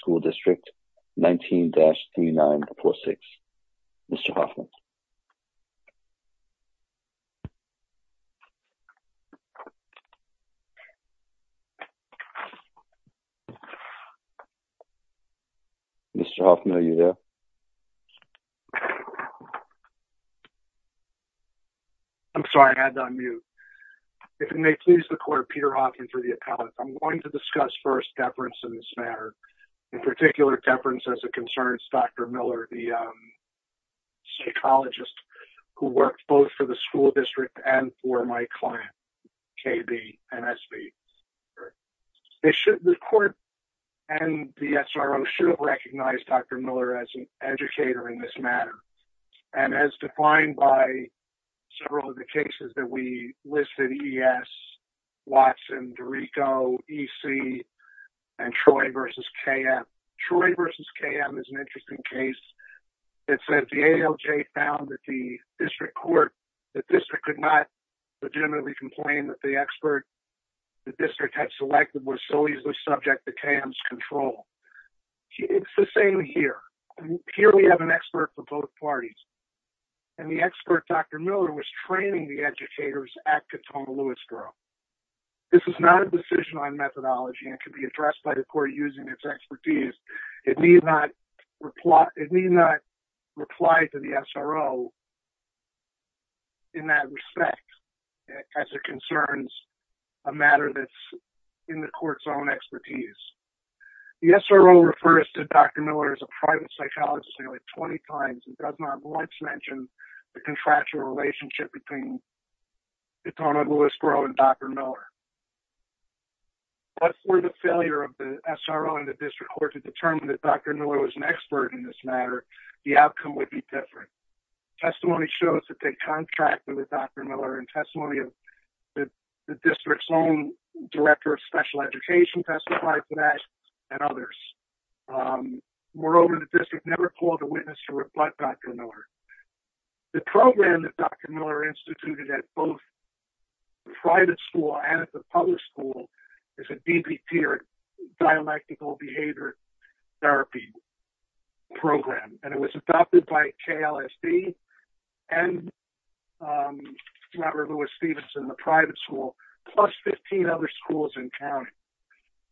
School District, 19-3946, Mr. Hoffman. Mr. Hoffman, are you there? I'm sorry, I had to unmute. If it may please the court, Peter Hoffman for the appellate. I'm going to discuss first deference in this matter. In particular, deference as it concerns Dr. Miller, the psychologist who worked both for the school district and for my client, KB, MSB. The court and the SRO should have recognized Dr. Miller as an educator in this matter. And as defined by several of the cases that we listed, ES, Watson, Dorico, EC, and Troy v. KM. Troy v. KM is an interesting case. It said the ALJ found that the district court, the district could not legitimately complain that the expert the district had selected was solely the subject of KM's control. It's the same here. Here we have an expert for both parties. And the expert, Dr. Miller, was training the educators at Katonah Lewisboro. This is not a decision on methodology and can be addressed by the court using its expertise. It need not reply to the SRO in that respect as it concerns a matter that's in the court's own expertise. The SRO refers to Dr. Miller as a private psychologist nearly 20 times and does not once mention the contractual relationship between Katonah Lewisboro and Dr. Miller. But for the failure of the SRO and the district court to determine that Dr. Miller was an expert in this matter, the outcome would be different. Testimony shows that they contracted with Dr. Miller and testimony of the district's own director of special education testified to that and others. Moreover, the district never called a witness to rebut Dr. Miller. The program that Dr. Miller instituted at both the private school and at the public school is a DBT or dialectical behavior therapy program. And it was adopted by KLSD and Katonah Lewisboro in the private school plus 15 other schools and counties.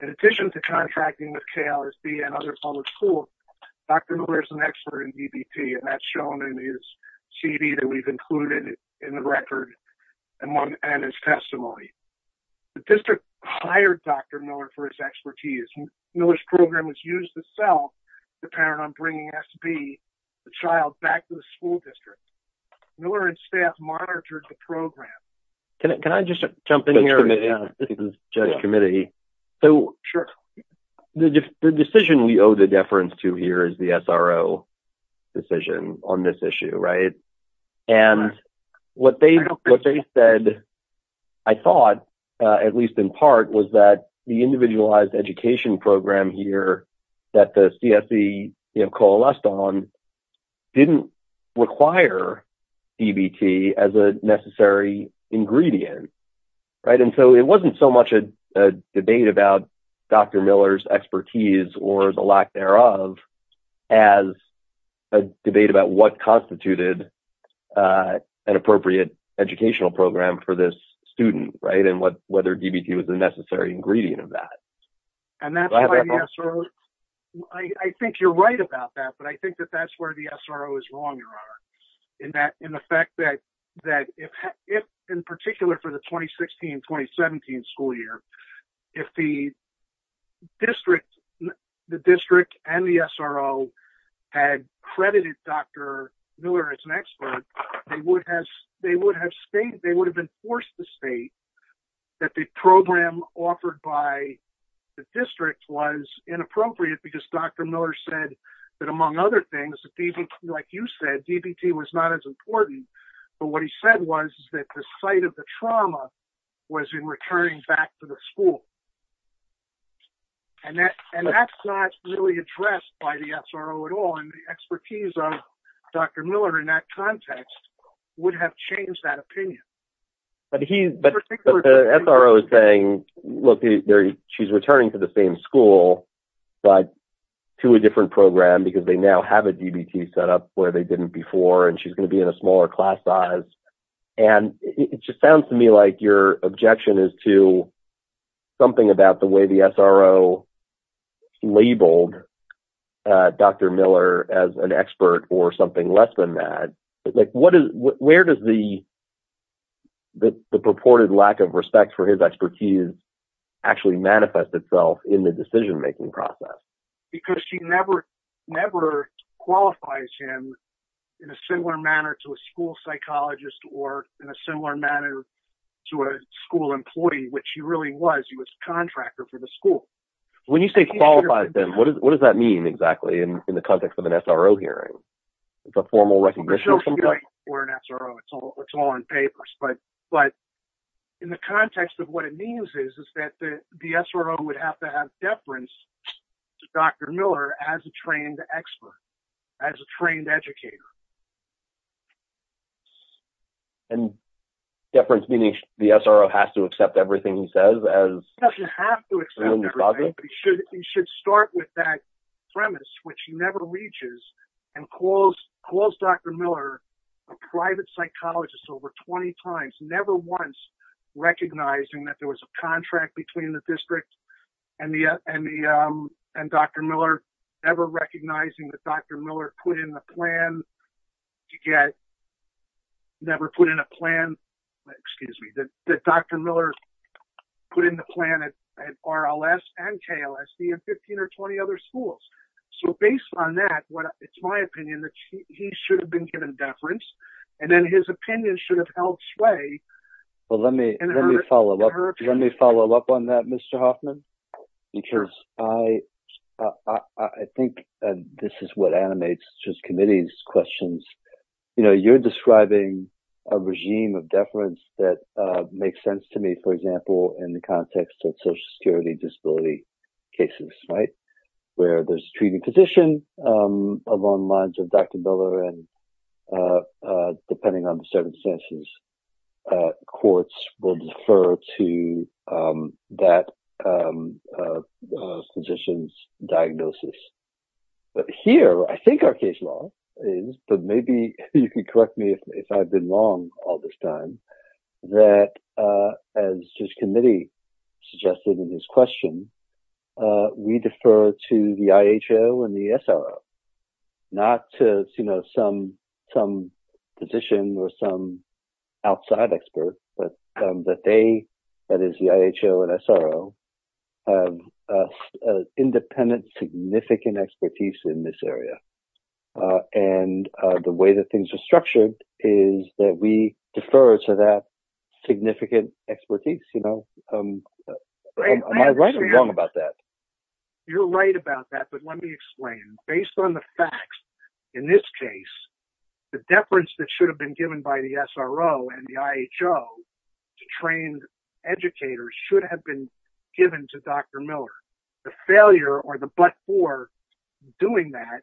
In addition to contracting with KLSD and other public schools, Dr. Miller is an expert in DBT and that's shown in his CD that we've included in the record and his testimony. The district hired Dr. Miller for his expertise. Miller's program was used to sell the parent on bringing SB, the child, back to the school district. Miller and staff monitored the program. Can I just jump in here? This is the judge committee. Sure. The decision we owe the deference to here is the SRO decision on this issue, right? What they said, I thought, at least in part, was that the individualized education program here that the CSE coalesced on didn't require DBT as a necessary ingredient, right? An appropriate educational program for this student, right? And whether DBT was a necessary ingredient of that. I think you're right about that, but I think that that's where the SRO is wrong, Your Honor. In the fact that, in particular for the 2016-2017 school year, if the district and the SRO had credited Dr. Miller as an expert, they would have enforced the state that the program offered by the district was inappropriate because Dr. Miller said that, among other things, like you said, DBT was not as important, but what he said was that the site of the trauma was in returning back to the school. And that's not really addressed by the SRO at all, and the expertise of Dr. Miller in that context would have changed that opinion. But the SRO is saying, look, she's returning to the same school, but to a different program because they now have a DBT set up where they didn't before, and she's going to be in a smaller class size. And it just sounds to me like your objection is to something about the way the SRO labeled Dr. Miller as an expert or something less than that. Where does the purported lack of respect for his expertise actually manifest itself in the decision-making process? Because she never qualifies him in a similar manner to a school psychologist or in a similar manner to a school employee, which she really was. She was a contractor for the school. When you say qualifies him, what does that mean exactly in the context of an SRO hearing? It's a formal recognition or something? But in the context of what it means is that the SRO would have to have deference to Dr. Miller as a trained expert, as a trained educator. And deference meaning the SRO has to accept everything he says? He doesn't have to accept everything, but he should start with that premise, which he never reaches, and calls Dr. Miller a private psychologist over 20 times, never once recognizing that there was a contract between the district and Dr. Miller, never recognizing that Dr. Miller put in a plan at RLS and KLSD and 15 or 20 other schools. So based on that, it's my opinion that he should have been given deference, and then his opinion should have held sway. Let me follow up on that, Mr. Hoffman, because I think this is what animates this committee's questions. You know, you're describing a regime of deference that makes sense to me, for example, in the context of Social Security disability cases, right, where there's a treating physician along the lines of Dr. Miller, and depending on the circumstances, courts will defer to that physician's diagnosis. But here, I think our case law is, but maybe you can correct me if I've been wrong all this time, that as this committee suggested in this question, we defer to the IHO and the SRO. Not to, you know, some physician or some outside expert, but that they, that is the IHO and SRO, have independent significant expertise in this area. And the way that things are structured is that we defer to that significant expertise, you know. Am I right or wrong about that? You're right about that, but let me explain. Based on the facts in this case, the deference that should have been given by the SRO and the IHO to trained educators should have been given to Dr. Miller. The failure or the but-for doing that,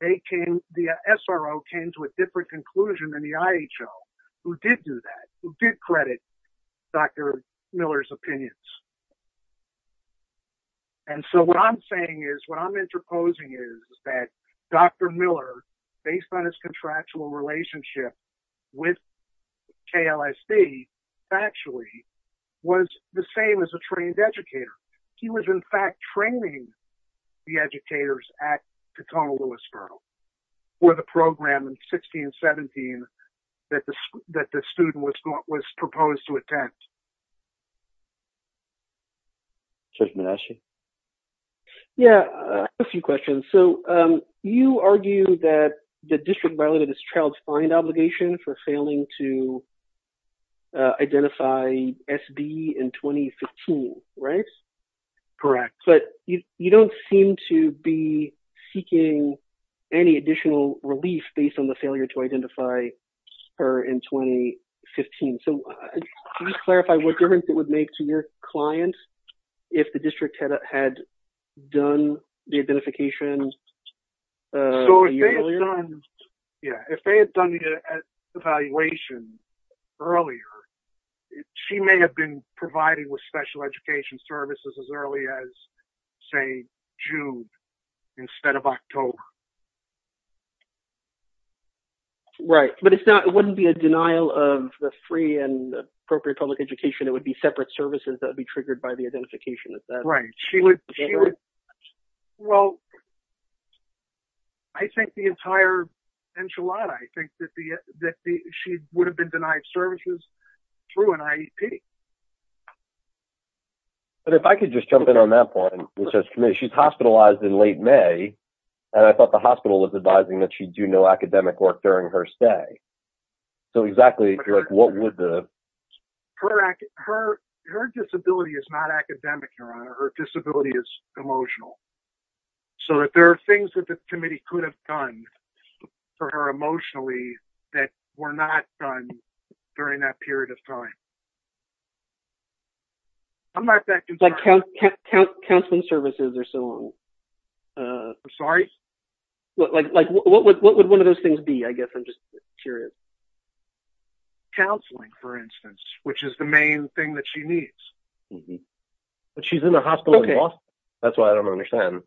they came, the SRO came to a different conclusion than the IHO, who did do that, who did credit Dr. Miller's opinions. And so what I'm saying is, what I'm interposing is that Dr. Miller, based on his contractual relationship with KLSD, actually was the same as a trained educator. He was, in fact, training the educators at Tacoma-Willis-Byrd for the program in 16-17 that the student was proposed to attend. Judge Manasci? Yeah, I have a few questions. So you argue that the district violated its child's client obligation for failing to identify SB in 2015, right? Correct. But you don't seem to be seeking any additional relief based on the failure to identify her in 2015. So can you clarify what difference it would make to your client if the district had done the identification a year earlier? If they had done the evaluation earlier, she may have been provided with special education services as early as, say, June instead of October. Right, but it wouldn't be a denial of the free and appropriate public education. It would be separate services that would be triggered by the identification. Right. Well, I think the entire enchilada, I think, that she would have been denied services through an IEP. But if I could just jump in on that point, which is she's hospitalized in late May, and I thought the hospital was advising that she do no academic work during her stay. So exactly what would the... Her disability is not academic, Your Honor. Her disability is emotional. So that there are things that the committee could have done for her emotionally that were not done during that period of time. I'm not that concerned. Like counseling services or so on. I'm sorry? What would one of those things be? I guess I'm just curious. Counseling, for instance, which is the main thing that she needs. But she's in the hospital in Boston. That's why I don't understand.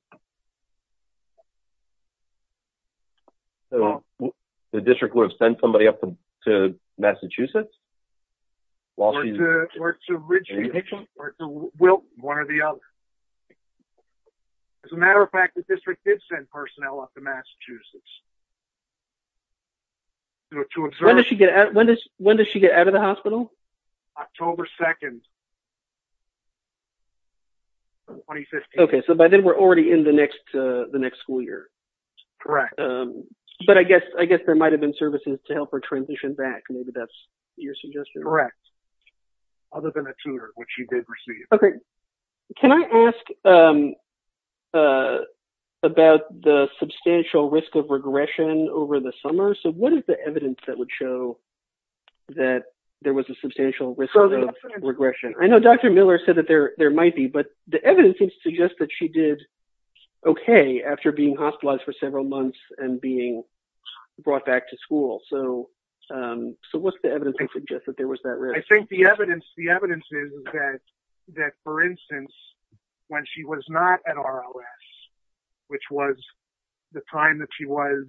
The district would have sent somebody up to Massachusetts? Or to Ridgeview, or to Wilton, one or the other. As a matter of fact, the district did send personnel up to Massachusetts. When does she get out of the hospital? October 2nd, 2015. Okay, so by then we're already in the next school year. Correct. But I guess there might have been services to help her transition back. Maybe that's your suggestion. Correct. Other than a tutor, which she did receive. Can I ask about the substantial risk of regression over the summer? So what is the evidence that would show that there was a substantial risk of regression? I know Dr. Miller said that there might be, but the evidence seems to suggest that she did okay after being hospitalized for several months and being brought back to school. So what's the evidence that suggests that there was that risk? I think the evidence is that, for instance, when she was not at RLS, which was the time that she was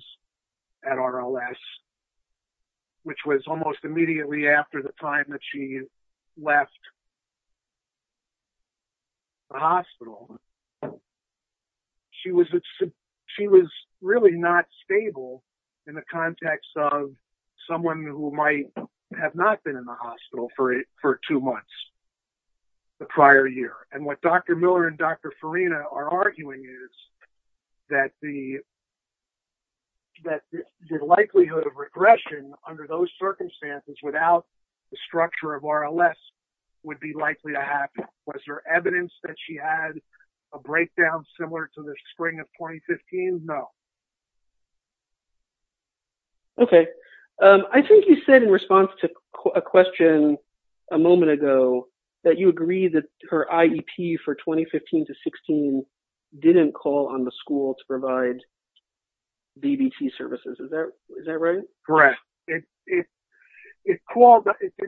at RLS, which was almost immediately after the time that she left the hospital, she was really not stable in the context of someone who might have not been in the hospital for two months the prior year. And what Dr. Miller and Dr. Farina are arguing is that the likelihood of regression under those circumstances without the structure of RLS would be likely to happen. Was there evidence that she had a breakdown similar to the spring of 2015? No. Okay. I think you said in response to a question a moment ago that you agree that her IEP for 2015-16 didn't call on the school to provide BBT services. Is that right? Correct. It did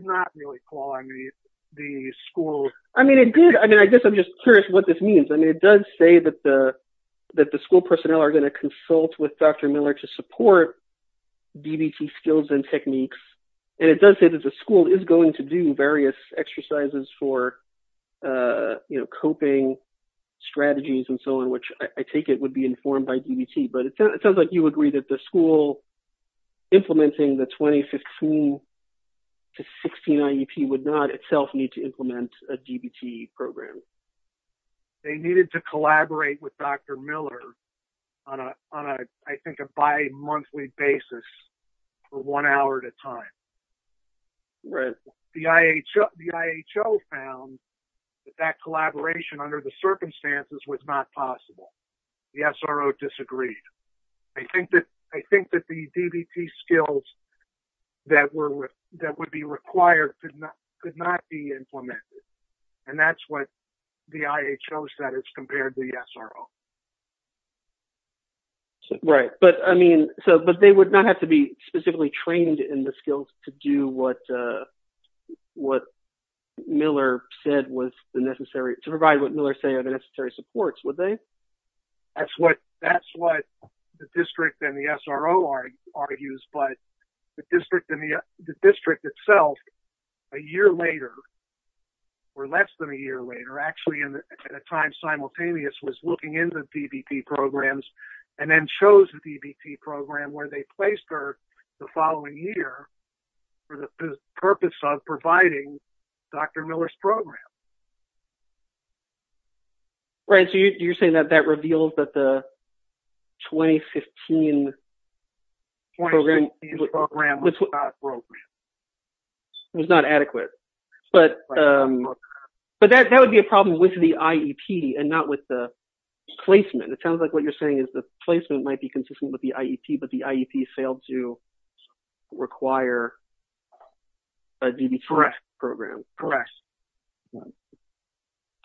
not really call on the school. I mean, it did. I mean, I guess I'm just curious what this means. I mean, it does say that the school personnel are going to consult with Dr. Miller to support BBT skills and techniques. And it does say that the school is going to do various exercises for coping strategies and so on, which I take it would be informed by BBT. But it sounds like you agree that the school implementing the 2015-16 IEP would not itself need to implement a BBT program. They needed to collaborate with Dr. Miller on, I think, a bi-monthly basis for one hour at a time. The IHO found that that collaboration under the circumstances was not possible. The SRO disagreed. I think that the BBT skills that would be required could not be implemented. And that's what the IHO said as compared to the SRO. Right. But, I mean, they would not have to be specifically trained in the skills to do what Miller said was necessary, to provide what Miller said are the necessary supports, would they? That's what the district and the SRO argues. But the district itself, a year later, or less than a year later, actually at a time simultaneous, was looking into BBT programs and then chose the BBT program where they placed her the following year for the purpose of providing Dr. Miller's program. Right. So you're saying that that reveals that the 2015 program was not adequate. But that would be a problem with the IEP and not with the placement. It sounds like what you're saying is the placement might be consistent with the IEP, but the IEP failed to require a BBT program. Correct.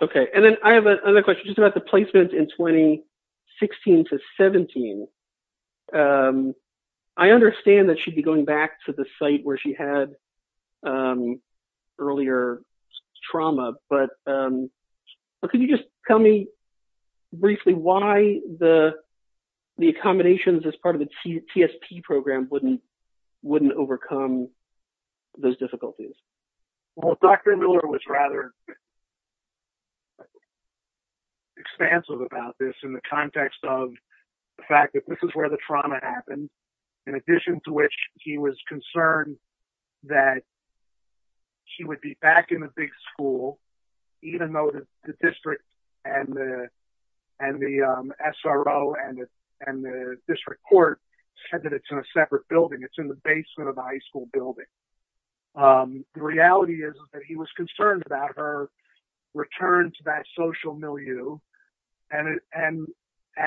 Okay. And then I have another question just about the placement in 2016 to 17. I understand that she'd be going back to the site where she had earlier trauma, but could you just tell me briefly why the accommodations as part of the TSP program wouldn't overcome those difficulties? Well, Dr. Miller was rather expansive about this in the context of the fact that this is where the trauma happened, in addition to which he was concerned that she would be back in the big school, even though the district and the SRO and the district court said that it's in a separate building. It's in the basement of the high school building. The reality is that he was concerned about her return to that social milieu, and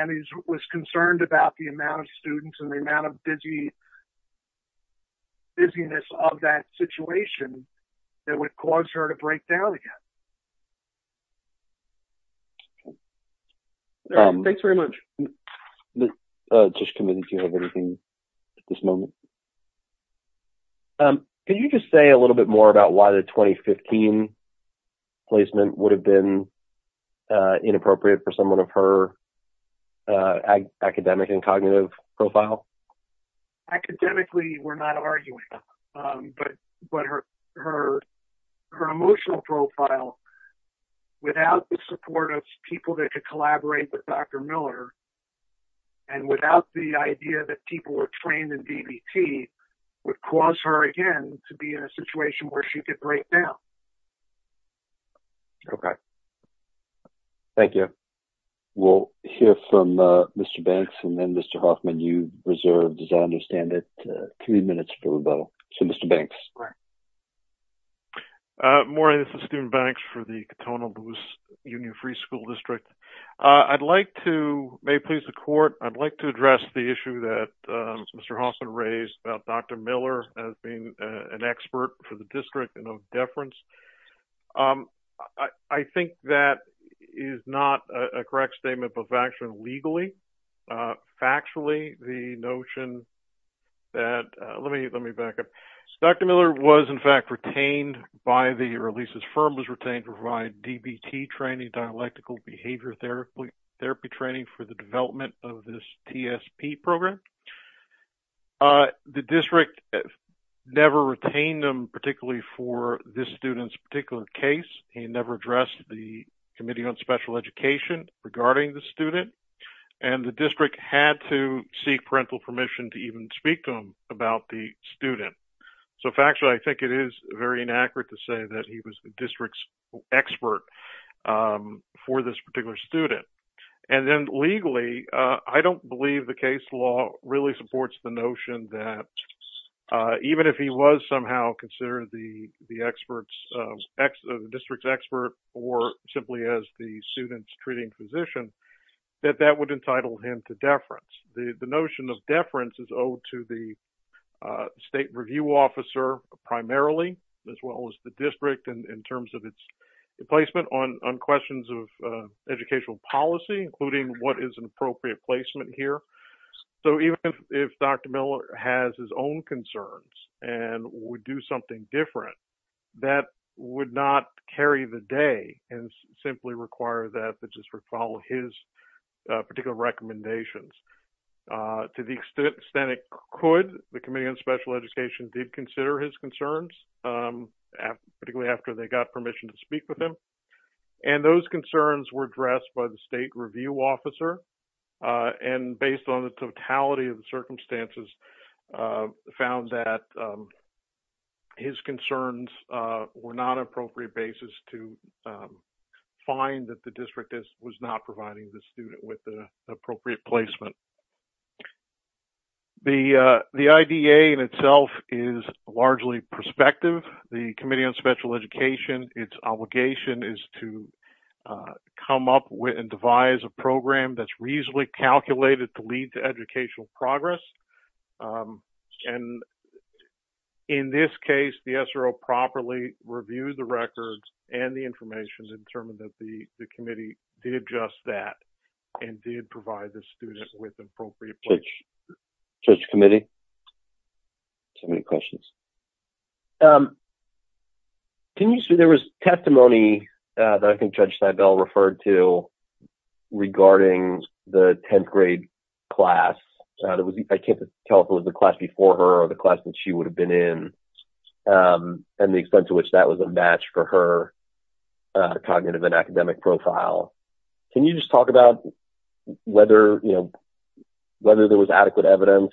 he was concerned about the amount of students and the amount of busyness of that situation that would cause her to break down again. Thanks very much. Just committed to everything at this moment. Can you just say a little bit more about why the 2015 placement would have been inappropriate for someone of her academic and cognitive profile? Academically, we're not arguing, but her emotional profile, without the support of people that could collaborate with Dr. Miller and without the idea that people were trained in DBT, would cause her again to be in a situation where she could break down. Okay. Thank you. We'll hear from Mr. Banks and then Mr. Hoffman, you reserved, as I understand it, three minutes for rebuttal. So, Mr. Banks. Morning, this is Stephen Banks for the Cotonou-Louis Union Free School District. I'd like to, may it please the court, I'd like to address the issue that Mr. Hoffman raised about Dr. Miller as being an expert for the district and of deference. I think that is not a correct statement, but factually, legally, factually, the notion that, let me back up. Dr. Miller was in fact retained by the, or at least his firm was retained to provide DBT training, dialectical behavior therapy training for the development of this TSP program. The district never retained him particularly for this student's particular case. He never addressed the Committee on Special Education regarding the student. And the district had to seek parental permission to even speak to him about the student. So, factually, I think it is very inaccurate to say that he was the district's expert for this particular student. And then legally, I don't believe the case law really supports the notion that even if he was somehow considered the district's expert or simply as the student's treating physician, that that would entitle him to deference. The notion of deference is owed to the state review officer primarily, as well as the district in terms of its placement on questions of educational policy, including what is an appropriate placement here. So even if Dr. Miller has his own concerns and would do something different, that would not carry the day and simply require that the district follow his particular recommendations. To the extent it could, the Committee on Special Education did consider his concerns, particularly after they got permission to speak with him. And those concerns were addressed by the state review officer, and based on the totality of the circumstances, found that his concerns were not an appropriate basis to find that the district was not providing the student with the appropriate placement. The IDA in itself is largely prospective. The Committee on Special Education, its obligation is to come up with and devise a program that's reasonably calculated to lead to educational progress. And in this case, the SRO properly reviewed the records and the information and determined that the committee did just that and did provide the student with appropriate place. Thank you, Judge. Judge Committee? There was testimony that I think Judge Seibel referred to regarding the 10th grade class. I can't tell if it was the class before her or the class that she would have been in, and the extent to which that was a match for her cognitive and academic profile. Can you just talk about whether there was adequate evidence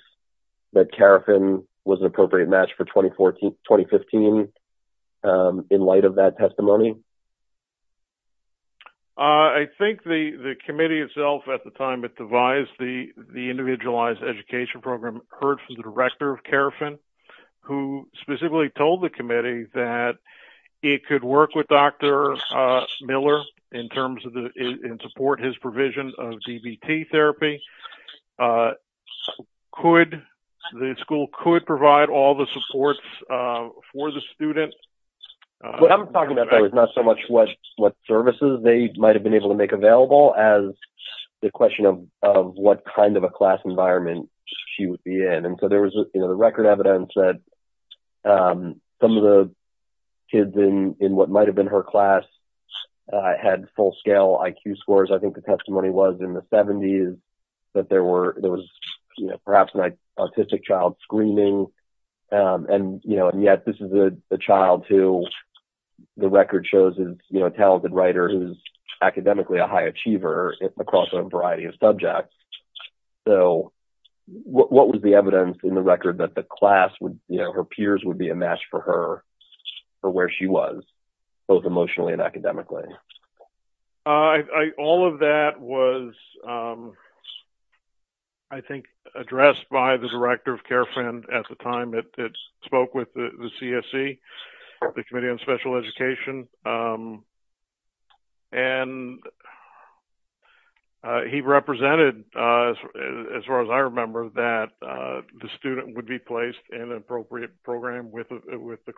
that CARFIN was an appropriate match for 2015 in light of that testimony? I think the committee itself at the time it devised the individualized education program heard from the director of CARFIN, who specifically told the committee that it could work with Dr. Miller in support of his provision of DBT therapy. The school could provide all the supports for the student. What I'm talking about, though, is not so much what services they might have been able to make available as the question of what kind of a class environment she would be in. And so there was the record evidence that some of the kids in what might have been her class had full-scale IQ scores. I think the testimony was in the 70s that there was perhaps an autistic child screaming. And yet this is a child who the record shows is a talented writer who's academically a high achiever across a variety of subjects. So what was the evidence in the record that her peers would be a match for her for where she was, both emotionally and academically? All of that was, I think, addressed by the director of CARFIN at the time. It spoke with the CSC, the Committee on Special Education. And he represented, as far as I remember, that the student would be placed in an appropriate program with the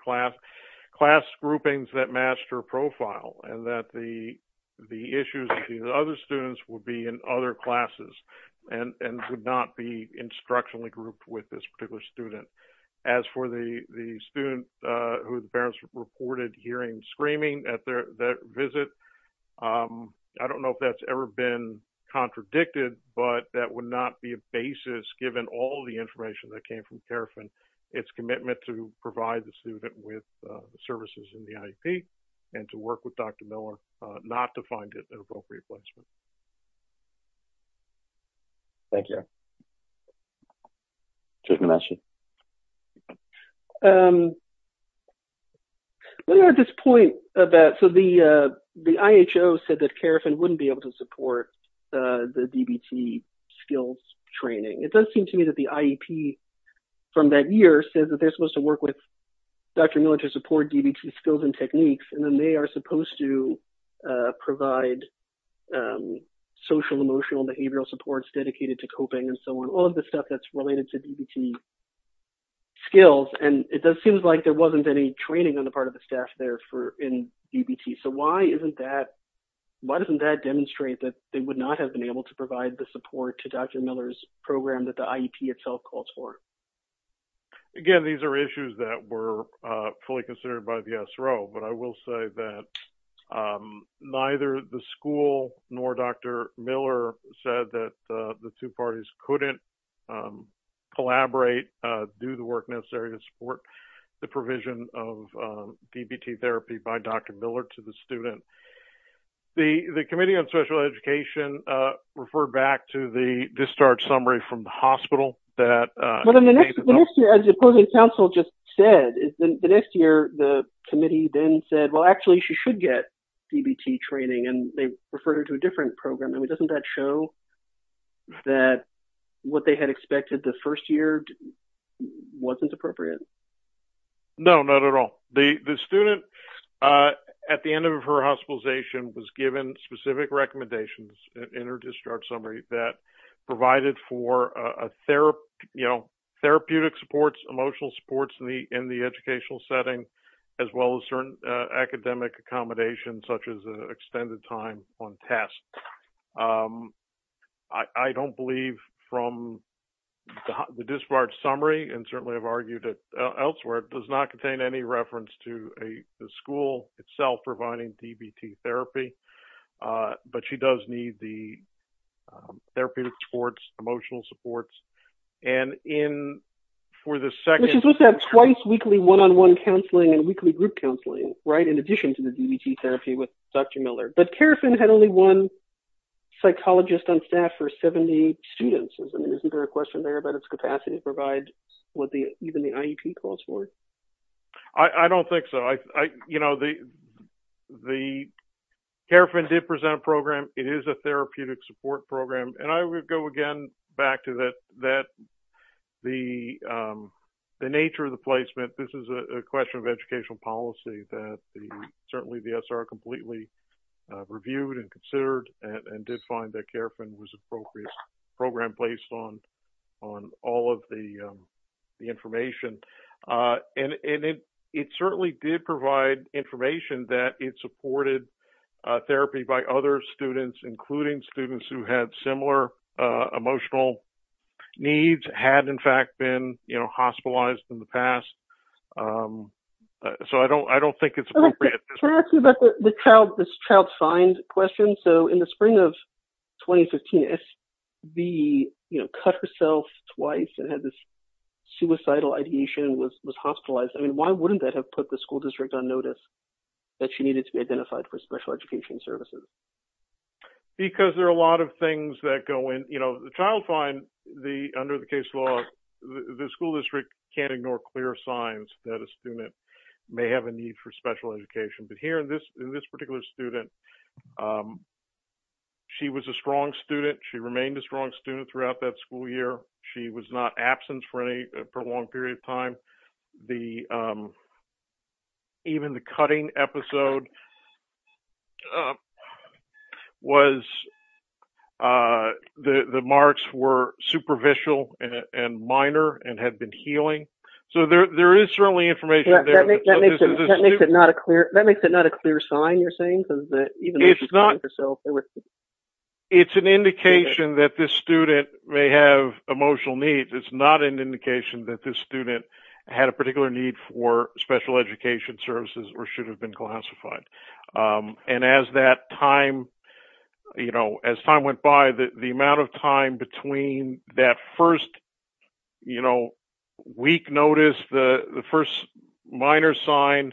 class groupings that matched her profile, and that the issues with the other students would be in other classes and would not be instructionally grouped with this particular student. As for the student whose parents reported hearing screaming at their visit, I don't know if that's ever been contradicted, but that would not be a basis given all the information that came from CARFIN, its commitment to provide the student with services in the IEP and to work with Dr. Miller not to find it an appropriate placement. Thank you. Jake Namashe? Well, at this point, the IHO said that CARFIN wouldn't be able to support the DBT skills training. It does seem to me that the IEP from that year said that they're supposed to work with Dr. Miller to support DBT skills and techniques, and then they are supposed to provide social, emotional, behavioral supports dedicated to coping and so on, all of the stuff that's related to DBT skills. And it does seem like there wasn't any training on the part of the staff there in DBT. So why isn't that – why doesn't that demonstrate that they would not have been able to provide the support to Dr. Miller's program that the IEP itself calls for? Again, these are issues that were fully considered by the SRO, but I will say that neither the school nor Dr. Miller said that the two parties couldn't collaborate, do the work necessary to support the provision of DBT therapy by Dr. Miller to the student. The Committee on Special Education referred back to the discharge summary from the hospital that – But in the next year, as the opposing counsel just said, the next year, the committee then said, well, actually, she should get DBT training, and they referred her to a different program. I mean, doesn't that show that what they had expected the first year wasn't appropriate? No, not at all. The student, at the end of her hospitalization, was given specific recommendations in her discharge summary that provided for therapeutic supports, emotional supports in the educational setting, as well as certain academic accommodations, such as extended time on tests. I don't believe from the discharge summary, and certainly I've argued it elsewhere, it does not contain any reference to the school itself providing DBT therapy, but she does need the therapeutic supports, emotional supports. And in – for the second – She's supposed to have twice weekly one-on-one counseling and weekly group counseling, right, in addition to the DBT therapy with Dr. Miller. But CARFIN had only one psychologist on staff for 70 students. I mean, isn't there a question there about its capacity to provide what even the IEP calls for? I don't think so. You know, the – CARFIN did present a program. It is a therapeutic support program. And I would go again back to that – the nature of the placement. This is a question of educational policy that certainly the SR completely reviewed and considered and did find that CARFIN was an appropriate program placed on all of the information. And it certainly did provide information that it supported therapy by other students, including students who had similar emotional needs, had in fact been, you know, hospitalized in the past. So I don't think it's appropriate. Can I ask you about this child find question? So in the spring of 2015, S.V. cut herself twice and had this suicidal ideation and was hospitalized. I mean, why wouldn't that have put the school district on notice that she needed to be identified for special education services? Because there are a lot of things that go in – you know, the child find, under the case law, the school district can't ignore clear signs that a student may have a need for special education. But here in this particular student, she was a strong student. She remained a strong student throughout that school year. She was not absent for a long period of time. Even the cutting episode was – the marks were superficial and minor and had been healing. So there is certainly information there. That makes it not a clear sign, you're saying? It's not – it's an indication that this student may have emotional needs. It's not an indication that this student had a particular need for special education services or should have been classified. And as that time – you know, as time went by, the amount of time between that first, you know, week notice, the first minor sign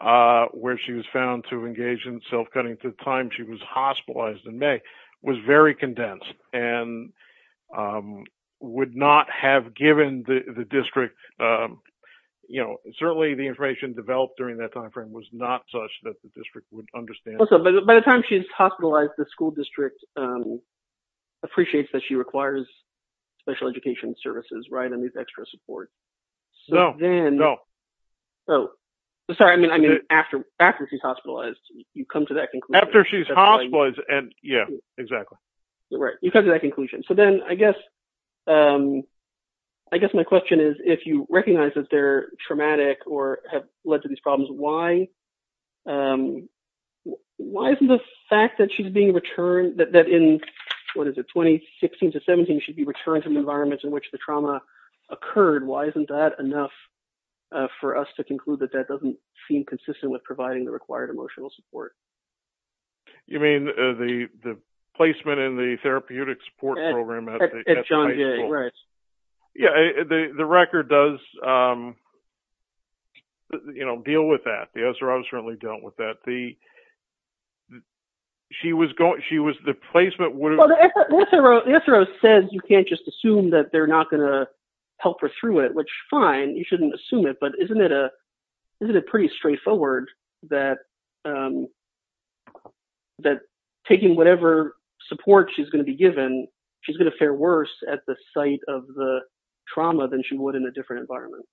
where she was found to engage in self-cutting to the time she was hospitalized in May, was very condensed and would not have given the district – you know, certainly the information developed during that time frame was not such that the district would understand. By the time she's hospitalized, the school district appreciates that she requires special education services, right, and these extra supports. No, no. Sorry, I mean after she's hospitalized, you come to that conclusion. After she's hospitalized, yeah, exactly. Right, you come to that conclusion. So then I guess my question is if you recognize that they're traumatic or have led to these problems, why isn't the fact that she's being returned – that in, what is it, 2016 to 17 she'd be returned to the environment in which the trauma occurred, why isn't that enough for us to conclude that that doesn't seem consistent with providing the required emotional support? You mean the placement in the therapeutic support program at the – At John Jay, right. Yeah, the record does, you know, deal with that. The SRO certainly dealt with that. The – she was going – she was – the placement would have – Well, the SRO says you can't just assume that they're not going to help her through it, which fine, you shouldn't assume it, but isn't it pretty straightforward that taking whatever support she's going to be given, she's going to fare worse at the site of the trauma than she would in a different environment?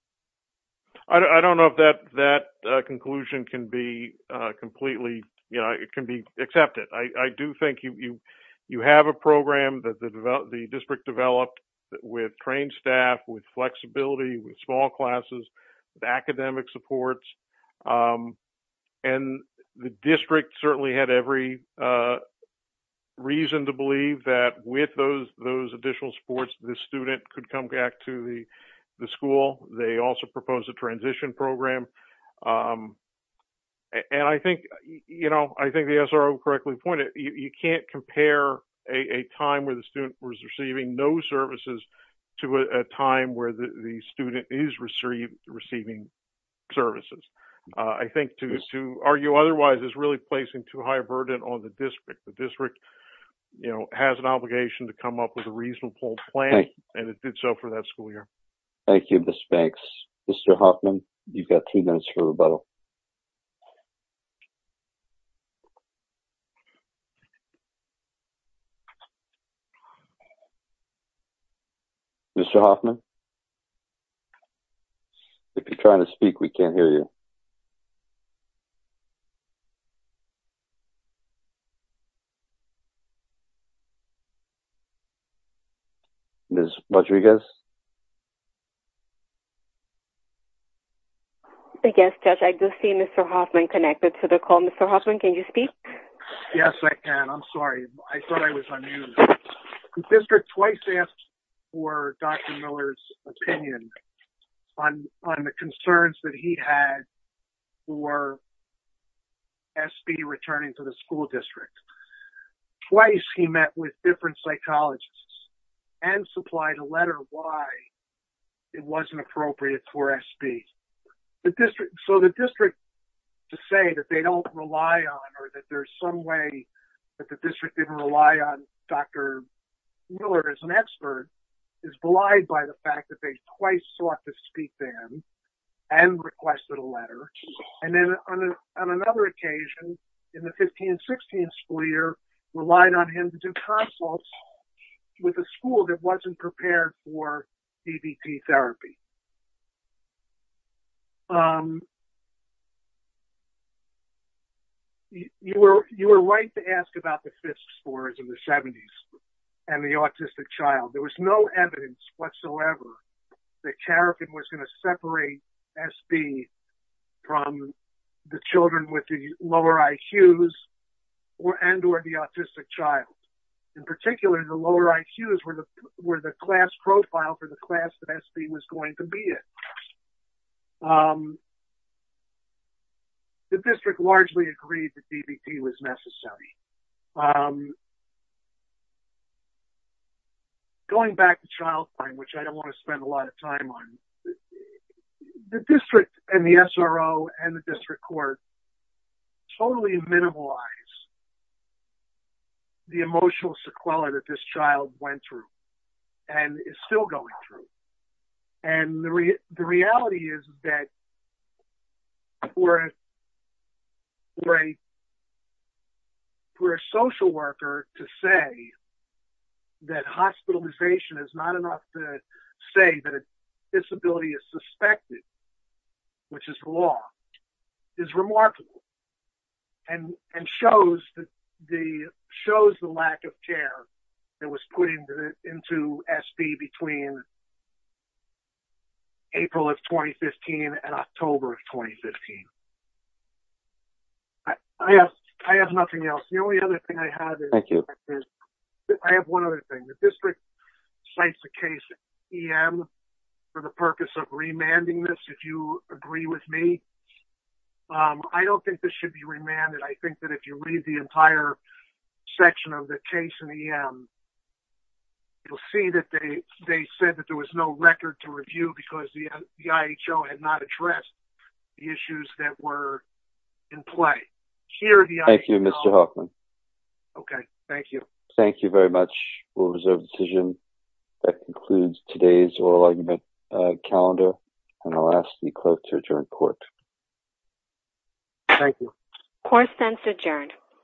I don't know if that conclusion can be completely – you know, it can be accepted. I do think you have a program that the district developed with trained staff, with flexibility, with small classes, with academic supports, and the district certainly had every reason to believe that with those additional supports, the student could come back to the school. They also proposed a transition program, and I think, you know, I think the SRO correctly pointed, you can't compare a time where the student was receiving no services to a time where the student is receiving services. I think to argue otherwise is really placing too high a burden on the district. The district, you know, has an obligation to come up with a reasonable plan, and it did so for that school year. Thank you, Ms. Banks. Mr. Hoffman, you've got two minutes for rebuttal. Mr. Hoffman? If you're trying to speak, we can't hear you. Ms. Rodriguez? Yes, Judge, I do see Mr. Hoffman connected to the call. Mr. Hoffman, can you speak? Yes, I can. I'm sorry. I thought I was unmuted. The district twice asked for Dr. Miller's opinion on the concerns that he had for SB returning to the school district. Twice he met with different psychologists and supplied a letter why it wasn't appropriate for SB. So the district, to say that they don't rely on or that there's some way that the district didn't rely on Dr. Miller as an expert, is belied by the fact that they twice sought to speak to him and requested a letter. And then on another occasion, in the 15-16 school year, relied on him to do consults with a school that wasn't prepared for CBT therapy. You were right to ask about the Fisk scores in the 70s and the autistic child. There was no evidence whatsoever that Carrigan was going to separate SB from the children with the lower IQs and or the autistic child. In particular, the lower IQs were the class profile for the class that SB was going to be in. The district largely agreed that CBT was necessary. Going back to child crime, which I don't want to spend a lot of time on, the district and the SRO and the district court totally minimalized the emotional sequela that this child went through and is still going through. The reality is that for a social worker to say that hospitalization is not enough to say that a disability is suspected, which is the law, is remarkable and shows the lack of care that was put into SB between April of 2015 and October of 2015. I have nothing else. The only other thing I have is, I have one other thing. The district cites a case in EM for the purpose of remanding this, if you agree with me. I don't think this should be remanded. I think that if you read the entire section of the case in EM, you'll see that they said that there was no record to review because the IHO had not addressed the issues that were in play. Thank you, Mr. Hoffman. Thank you very much. We'll reserve the decision. That concludes today's oral argument calendar. I'll ask the clerk to adjourn court. Thank you. Court is adjourned.